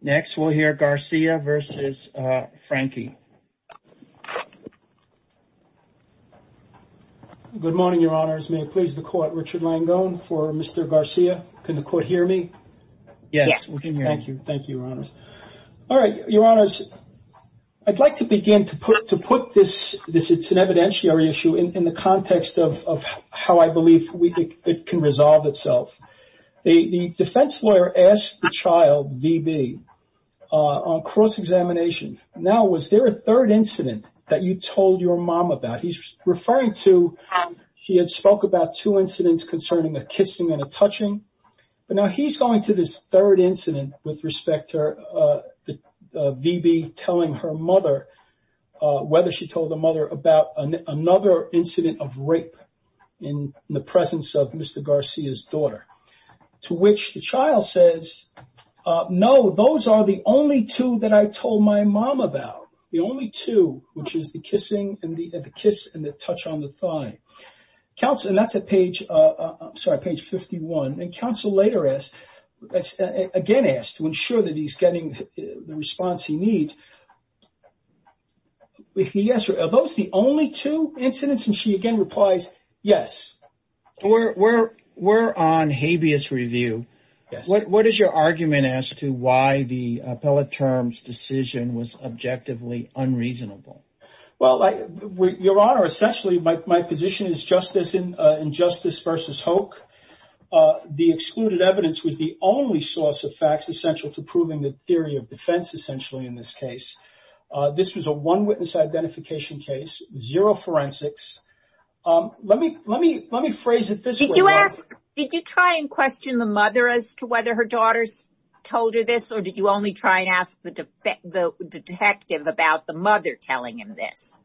Next, we'll hear Garcia versus Franchi. Good morning, Your Honors. May it please the court, Richard Langone for Mr. Garcia. Can the court hear me? Yes, we can hear you. Thank you. Thank you, Your Honors. All right, Your Honors, I'd like to begin to put to put this this. It's an evidentiary issue in the context of how I believe we think it can resolve itself. The defense lawyer asked the child, V. B, on cross examination. Now, was there a third incident that you told your mom about? He's referring to he had spoke about two incidents concerning a kissing and touching. But now he's going to this third incident with respect to, uh, V. B. Telling her mother whether she told the mother about another incident of rape in the Garcia's daughter, to which the child says, No, those are the only two that I told my mom about. The only two, which is the kissing and the kiss and the touch on the thigh counts. And that's a page. I'm sorry. Page 51. And counsel later is again asked to ensure that he's getting the response he needs. Yes, sir. Those the only two incidents? And she again replies, Yes, we're on habeas review. What is your argument as to why the appellate terms decision was objectively unreasonable? Well, Your Honor, essentially, my position is justice in justice versus Hoke. The excluded evidence was the only source of facts essential to proving the theory of defense. Essentially, in this case, this was a one witness identification case. Zero forensics. Um, let me let me let me phrase it. Did you ask? Did you try and question the mother as to whether her daughter's told her this? Or did you only try and ask the the detective about the mother telling him this?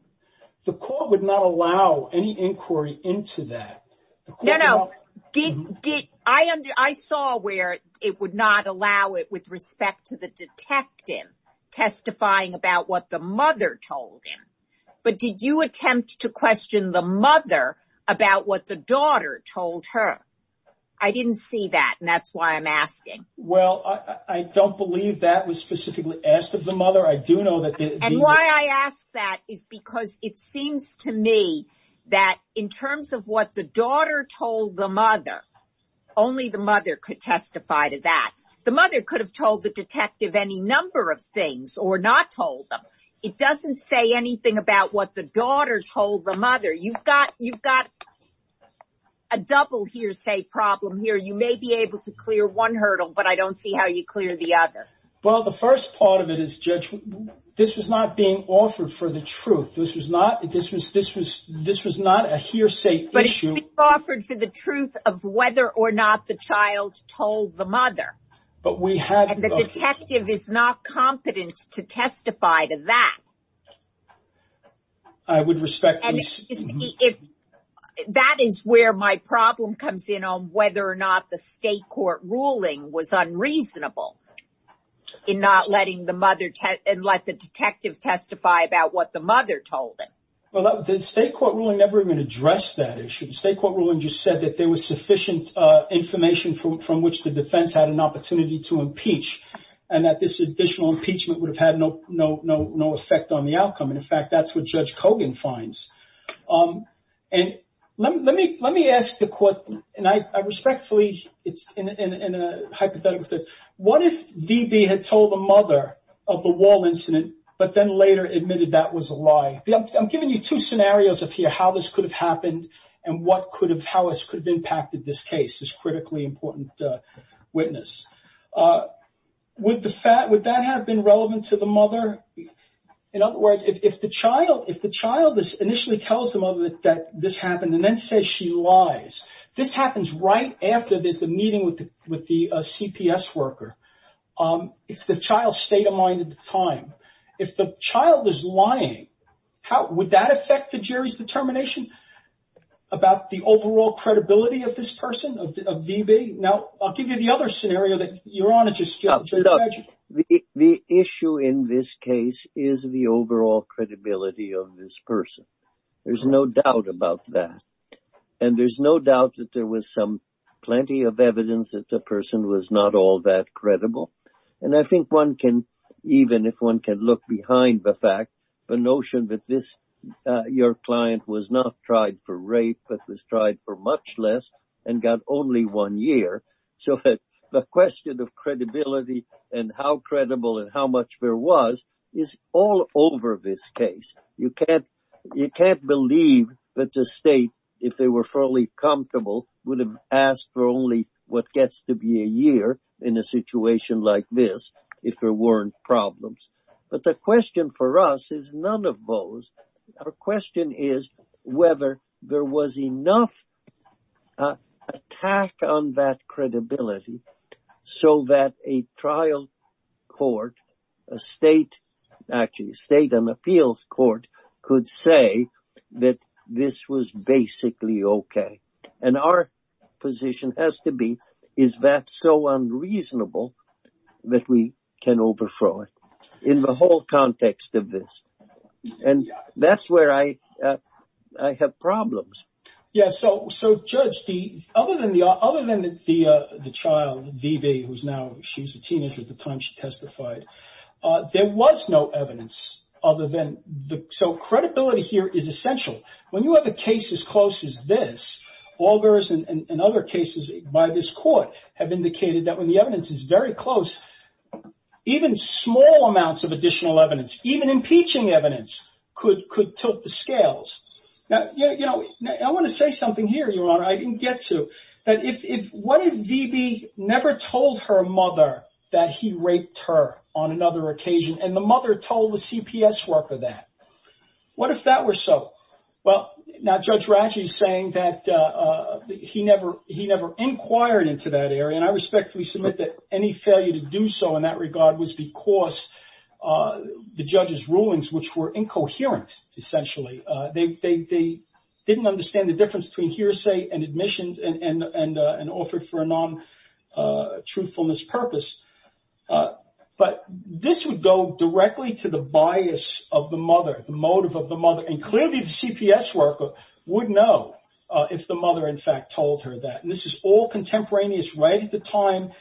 The court would not allow any inquiry into that. No, no. I saw where it would not allow it with respect to the detective testifying about what the mother told him. But did you attempt to question the mother about what the daughter told her? I didn't see that. And that's why I'm asking. Well, I don't believe that was specifically asked of the mother. I do know that. And why I ask that is because it seems to me that in what the daughter told the mother, only the mother could testify to that. The mother could have told the detective any number of things or not told them. It doesn't say anything about what the daughter told the mother. You've got you've got a double hearsay problem here. You may be able to clear one hurdle, but I don't see how you clear the other. Well, the first part of it is, Judge, this was not being offered for the truth. This was not this was this was this was not a hearsay issue. But it was offered for the truth of whether or not the child told the mother. But we have. And the detective is not competent to testify to that. I would respect. If that is where my problem comes in on whether or not the state court ruling was unreasonable in not letting the mother and let the detective testify about what the mother told him. Well, the state court ruling never even addressed that issue. The state court ruling just said that there was sufficient information from from which the defense had an opportunity to impeach and that this additional impeachment would have had no no no no effect on the outcome. And in fact, that's what Judge Kogan finds. And let me let me ask the court and I respectfully it's in a hypothetical sense. What if D.B. had told the mother of the wall incident but then later admitted that was a lie? I'm giving you two scenarios of here how this could have happened and what could have how this could have impacted this case is critically important witness with the fat. Would that have been relevant to the mother? In other words, if the child if the child is initially tells the mother that this happened and then says she lies, this happens right after there's a meeting with with the CPS worker. It's the child's state of mind at the time. If the child is lying, how would that affect the jury's determination about the overall credibility of this person, of D.B.? Now, I'll give you the other scenario that you're on. The issue in this case is the overall credibility of this person. There's no doubt about that. And there's no doubt that there was some plenty of evidence that the person was not all that credible. And I think one can even if one can look behind the fact the notion that this your client was not tried for rape but was tried for much less and got only one year. So that the question of credibility and how credible and how much there was is all over this case. You can't you can't believe that the state if they were fully comfortable would have asked for only what gets to be a year in a situation like this if there weren't problems. But the question for us is none of those. Our question is whether there was enough attack on that credibility so that a trial court, a state, actually state and appeals court could say that this was basically okay. And our position has to be is that so unreasonable that we can overthrow it in the whole context of this. And that's where I I have problems. Yes so so judge the other than the other than the the the child VB who's now she's a teenager at the time she testified there was no evidence other than the so credibility here is essential. When you have a case as close as this, Augers and other cases by this court have indicated that when the evidence is very close even small amounts of additional evidence even impeaching evidence could could tilt the scales. Now you know I want to say something here your honor I didn't get to that if what if VB never told her mother that he raped her on another occasion and the mother told the CPS work of that. What if that were so? Well now judge Raji is saying that he never he never inquired into that area and I respectfully submit that any failure to do so in that regard was because the judge's rulings which were incoherent essentially. They didn't understand the difference between hearsay and admissions and and an offer for a non-truthfulness purpose. But this would directly to the bias of the mother motive of the mother and clearly the CPS worker would know if the mother in fact told her that. This is all contemporaneous right at the time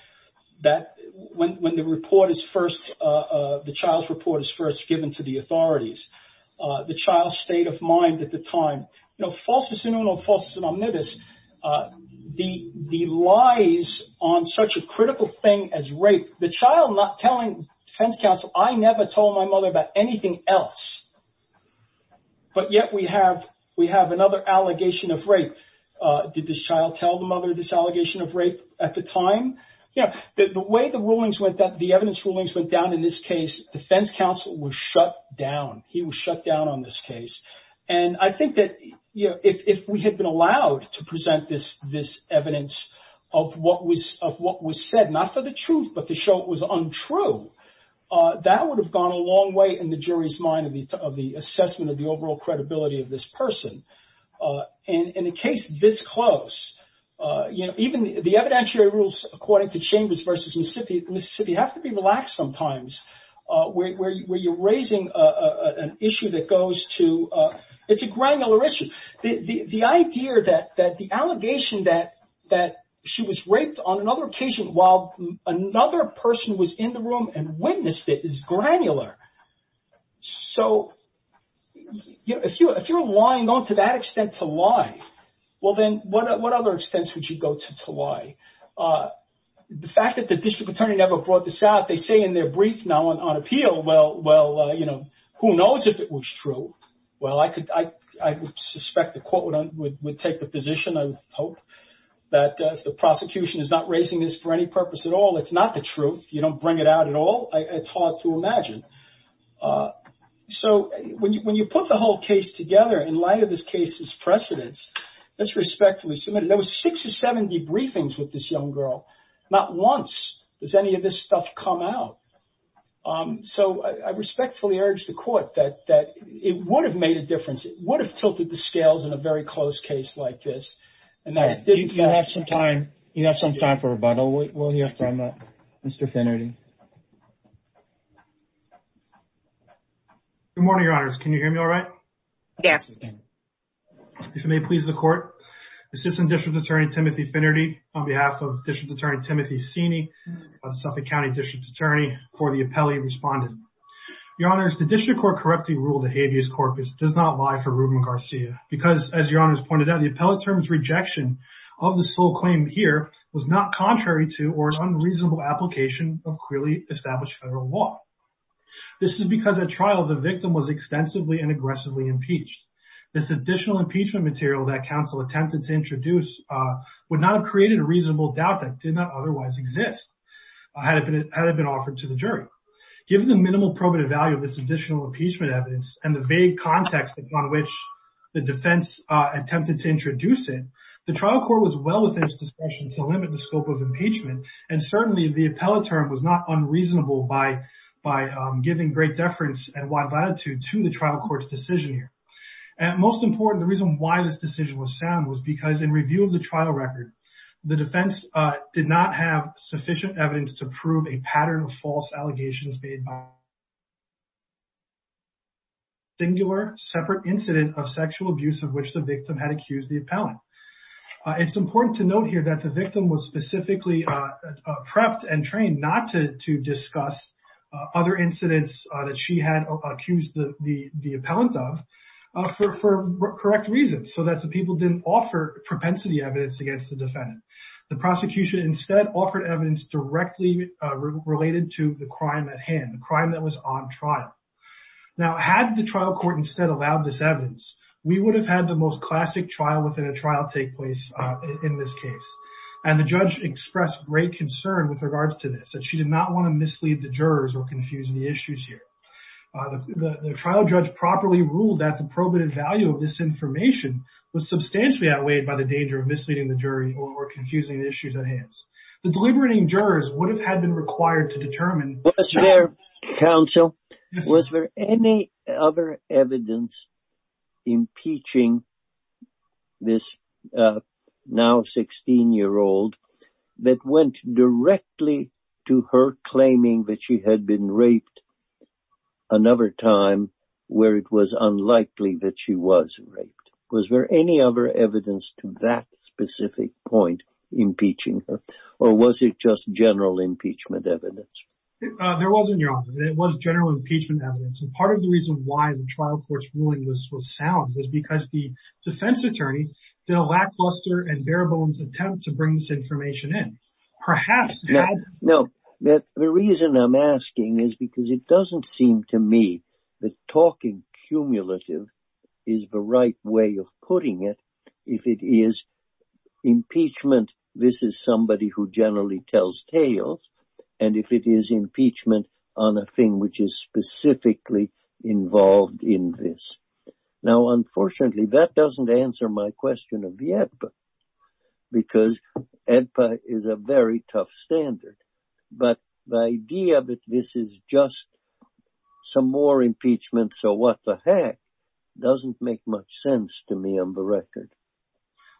that when when the report is first the child's report is first given to the authorities. The child's state of mind at the time you know falsus innuno, falsus omnibus the the lies on such a critical thing as I never told my mother about anything else. But yet we have we have another allegation of rape. Did this child tell the mother this allegation of rape at the time? The way the rulings went that the evidence rulings went down in this case defense counsel was shut down. He was shut down on this case and I think that you know if we had been allowed to present this this evidence of what was said not for the truth but to show it was untrue that would have gone a long way in the jury's mind of the assessment of the overall credibility of this person. In a case this close you know even the evidentiary rules according to Chambers versus Mississippi have to be relaxed sometimes where you're raising an issue that goes to it's a granular issue. The idea that that the other occasion while another person was in the room and witnessed it is granular. So you know if you if you're lying on to that extent to lie well then what what other extents would you go to to lie? The fact that the district attorney never brought this out they say in their brief now on appeal well well you know who knows if it was true. Well I could I would suspect the court would take a position I hope that the prosecution is not raising this for any purpose at all it's not the truth you don't bring it out at all it's hard to imagine. So when you put the whole case together in light of this case's precedents let's respectfully submit it. There was six or seventy briefings with this young girl not once does any of this stuff come out. So I respectfully urge the court that that it would have made a difference it would have tilted the scales in a very close case like this. You have some time you have some time for rebuttal we'll hear from Mr. Finnerty. Good morning your honor's can you hear me all right? Yes. If it may please the court assistant district attorney Timothy Finnerty on behalf of district attorney Timothy Sini of Suffolk County district attorney for the appellee respondent. Your honors the district court correctly ruled the habeas corpus does not lie for Ruben Garcia because as your honors pointed out the appellate terms rejection of the sole claim here was not contrary to or unreasonable application of clearly established federal law. This is because at trial the victim was extensively and aggressively impeached. This additional impeachment material that counsel attempted to introduce would not have created a reasonable doubt that did not otherwise exist had it been offered to the jury. Given the minimal probative value of this additional impeachment evidence and the vague context upon which the defense attempted to introduce it the trial court was well within its discretion to limit the scope of impeachment and certainly the appellate term was not unreasonable by by giving great deference and wide latitude to the trial courts decision here. And most important the reason why this decision was sound was because in review of the trial record the defense did not have singular separate incident of sexual abuse of which the victim had accused the appellant. It's important to note here that the victim was specifically prepped and trained not to discuss other incidents that she had accused the appellant of for correct reasons so that the people didn't offer propensity evidence against the defendant. The prosecution instead offered evidence directly related to the crime at hand the crime that was on trial. Now had the trial court instead allowed this evidence we would have had the most classic trial within a trial take place in this case and the judge expressed great concern with regards to this that she did not want to mislead the jurors or confuse the issues here. The trial judge properly ruled that the probative value of this information was substantially outweighed by the danger of misleading the jury or confusing the issues at hands. The deliberating jurors would have had been required to determine. Was there counsel was there any other evidence impeaching this now 16 year old that went directly to her claiming that she had been raped another time where it was unlikely that she was raped. Was there any other evidence to that specific point impeaching her or was it just general impeachment evidence. There wasn't your honor it was general impeachment evidence and part of the reason why the trial court's ruling was sound was because the defense attorney did a lackluster and bare-bones attempt to bring this information in perhaps. No the reason I'm asking is because it doesn't seem to me that talking cumulative is the right way of putting it if it is impeachment this is somebody who generally tells tales and if it is impeachment on a thing which is specifically involved in this. Now unfortunately that doesn't answer my question of the ADPA because ADPA is a very tough standard but the idea that this is just some more to me on the record.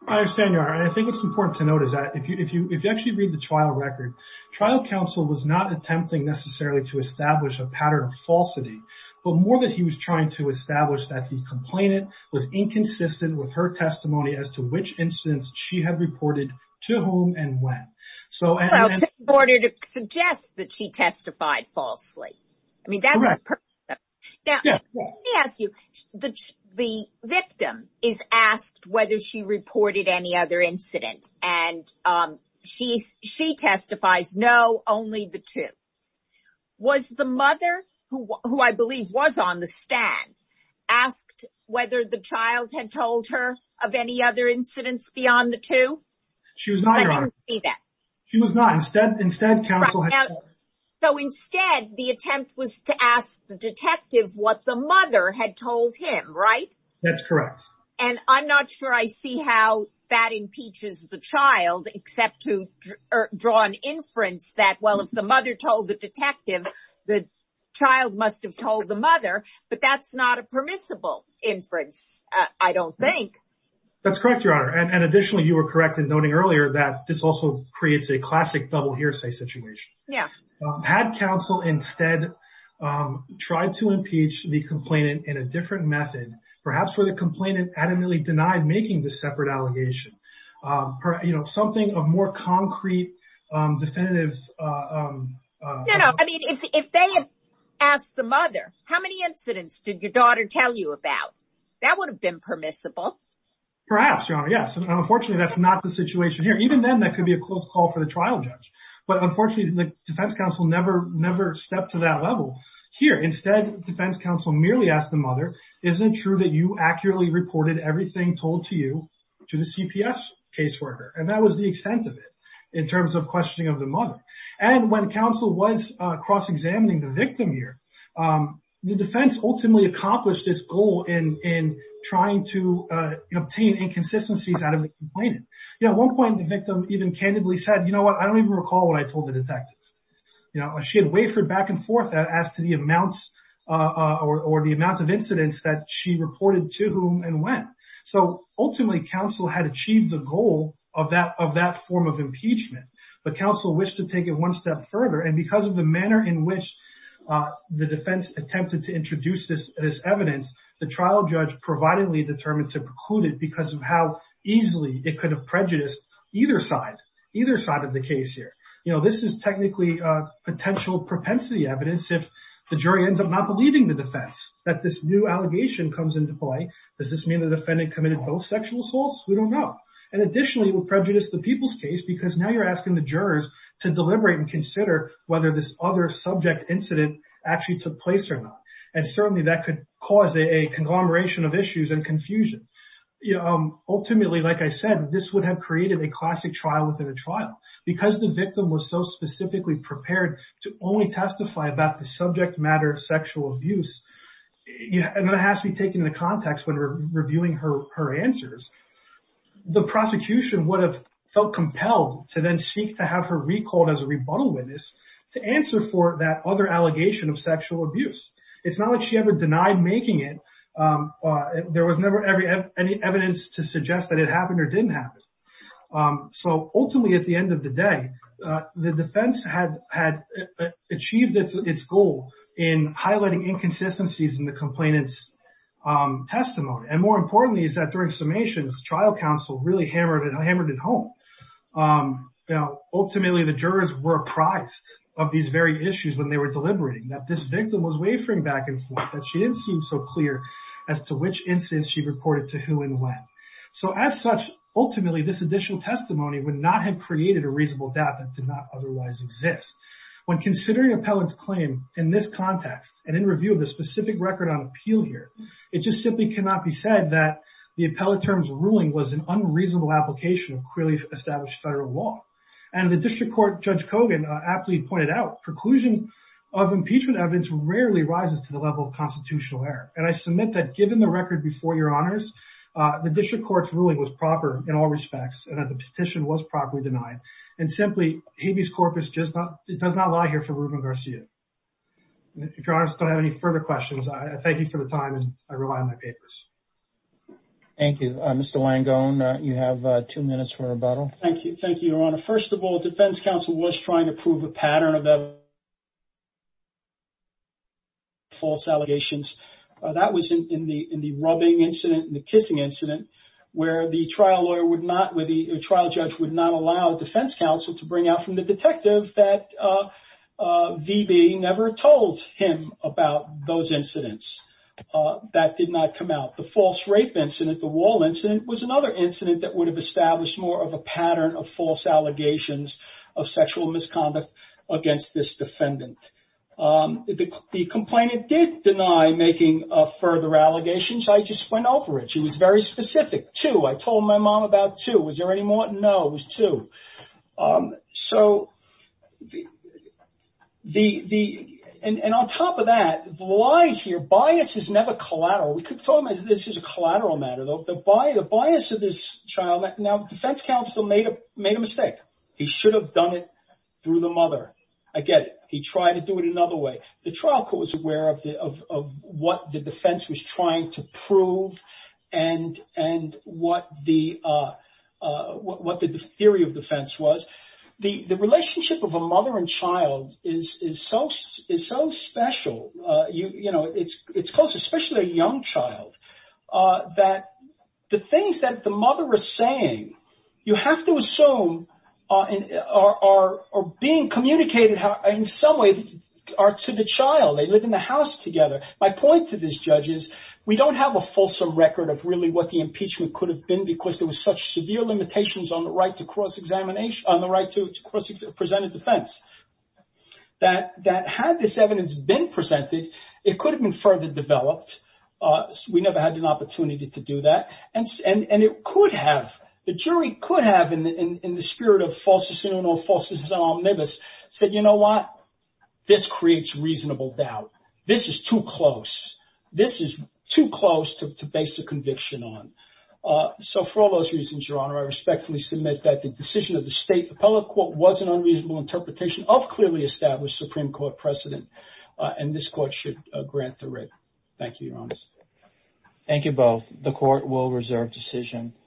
I understand your honor I think it's important to note is that if you if you if you actually read the trial record trial counsel was not attempting necessarily to establish a pattern of falsity but more that he was trying to establish that the complainant was inconsistent with her testimony as to which instance she had reported to whom and when. So in order to suggest that she testified falsely I mean that's correct. Now let me ask you the victim is asked whether she reported any other incident and she testifies no only the two. Was the mother who I believe was on the stand asked whether the child had told her of any other incidents beyond the two? She was not your honor. I didn't see that. She was not. Instead So instead the attempt was to ask the detective what the mother had told him right? That's correct. And I'm not sure I see how that impeaches the child except to draw an inference that well if the mother told the detective the child must have told the mother but that's not a permissible inference I don't think. That's correct your honor and additionally you were correct in noting earlier that this also creates a classic double hearsay situation. Had counsel instead tried to impeach the complainant in a different method perhaps where the complainant adamantly denied making the separate allegation you know something of more concrete definitive. I mean if they had asked the mother how many incidents did your daughter tell you about that would have been permissible? Perhaps your honor yes and unfortunately that's not the situation here. Even then that could be a close call for the trial judge but unfortunately the defense counsel never never stepped to that level here. Instead defense counsel merely asked the mother isn't true that you accurately reported everything told to you to the CPS caseworker and that was the extent of it in terms of questioning of the mother. And when counsel was cross-examining the to obtain inconsistencies out of the complainant. At one point the victim even candidly said you know what I don't even recall what I told the detective. You know she had wafered back and forth as to the amounts or the amount of incidents that she reported to whom and when. So ultimately counsel had achieved the goal of that of that form of impeachment but counsel wished to take it one step further and because of the manner in which the defense attempted to determine to preclude it because of how easily it could have prejudiced either side either side of the case here. You know this is technically a potential propensity evidence if the jury ends up not believing the defense that this new allegation comes into play. Does this mean the defendant committed both sexual assaults? We don't know. And additionally it will prejudice the people's case because now you're asking the jurors to deliberate and consider whether this other subject incident actually took place or not. And certainly that could cause a conglomeration of issues and confusion. Ultimately like I said this would have created a classic trial within a trial. Because the victim was so specifically prepared to only testify about the subject matter of sexual abuse and that has to be taken into context when we're reviewing her answers. The prosecution would have felt compelled to then seek to have her recalled as a rebuttal witness to answer for that other allegation of sexual abuse. It's not like she ever denied making it. There was never any evidence to suggest that it happened or didn't happen. So ultimately at the end of the day the defense had achieved its goal in highlighting inconsistencies in the complainants testimony. And more importantly is that during summations trial counsel really hammered it home. Now ultimately the jurors were apprised of these very issues when they were deliberating. That this victim was wavering back and forth. That she didn't seem so clear as to which instance she reported to who and when. So as such ultimately this additional testimony would not have created a reasonable doubt that did not otherwise exist. When considering appellants claim in this context and in review of the specific record on appeal here. It just simply cannot be said that the appellate terms ruling was an unreasonable application of clearly established federal law. And the District Court Judge Kogan aptly pointed out preclusion of impeachment evidence rarely rises to the level of constitutional error. And I submit that given the record before your honors the District Court's ruling was proper in all respects. And that the petition was properly denied. And simply Habeas Corpus just does not lie here for Ruben Garcia. If your honors don't have any further questions I thank you for the time and I rely on my papers. Thank you Mr. Langone. You have two minutes for rebuttal. Thank you thank you your honor. First of all defense counsel was trying to prove a pattern of false allegations. That was in the in the rubbing incident and the kissing incident where the trial lawyer would not with the trial judge would not allow defense counsel to bring out from the detective that VB never told him about those incidents. That did not come out. The false rape incident the wall incident was another incident that would have established more of a pattern of false allegations of sexual misconduct against this defendant. The complainant did deny making further allegations. I just went over it. She was very specific. Two. I told my mom about two. Was there any more? No. It was two. So the and on top of that lies here. Bias is never collateral. We could tell him this is a collateral matter though. The bias of this child. Now defense counsel made a made a mistake. He should have done it through the mother. I get it. He tried to do it another way. The trial court was aware of what the defense was trying to prove and and what the what the theory of defense was. The relationship of a mother and child is is so is so special. You that the things that the mother is saying you have to assume are are being communicated in some way are to the child. They live in the house together. My point to this judge is we don't have a fulsome record of really what the impeachment could have been because there was such severe limitations on the right to cross examination on the right to cross presented defense that that had this evidence been presented. It could have been further developed. We never had an opportunity to do that. And and and it could have the jury could have in in in the spirit of false assertion or false is omnibus said, you know what? This creates reasonable doubt. This is too close. This is too close to base a conviction on. Uh, so for all those reasons, your honor, I respectfully submit that the decision of the state appellate court was an unreasonable interpretation of clearly established Supreme Court precedent. Uh, and this should grant the right. Thank you. Your honor. Thank you. Both. The court will reserve decision.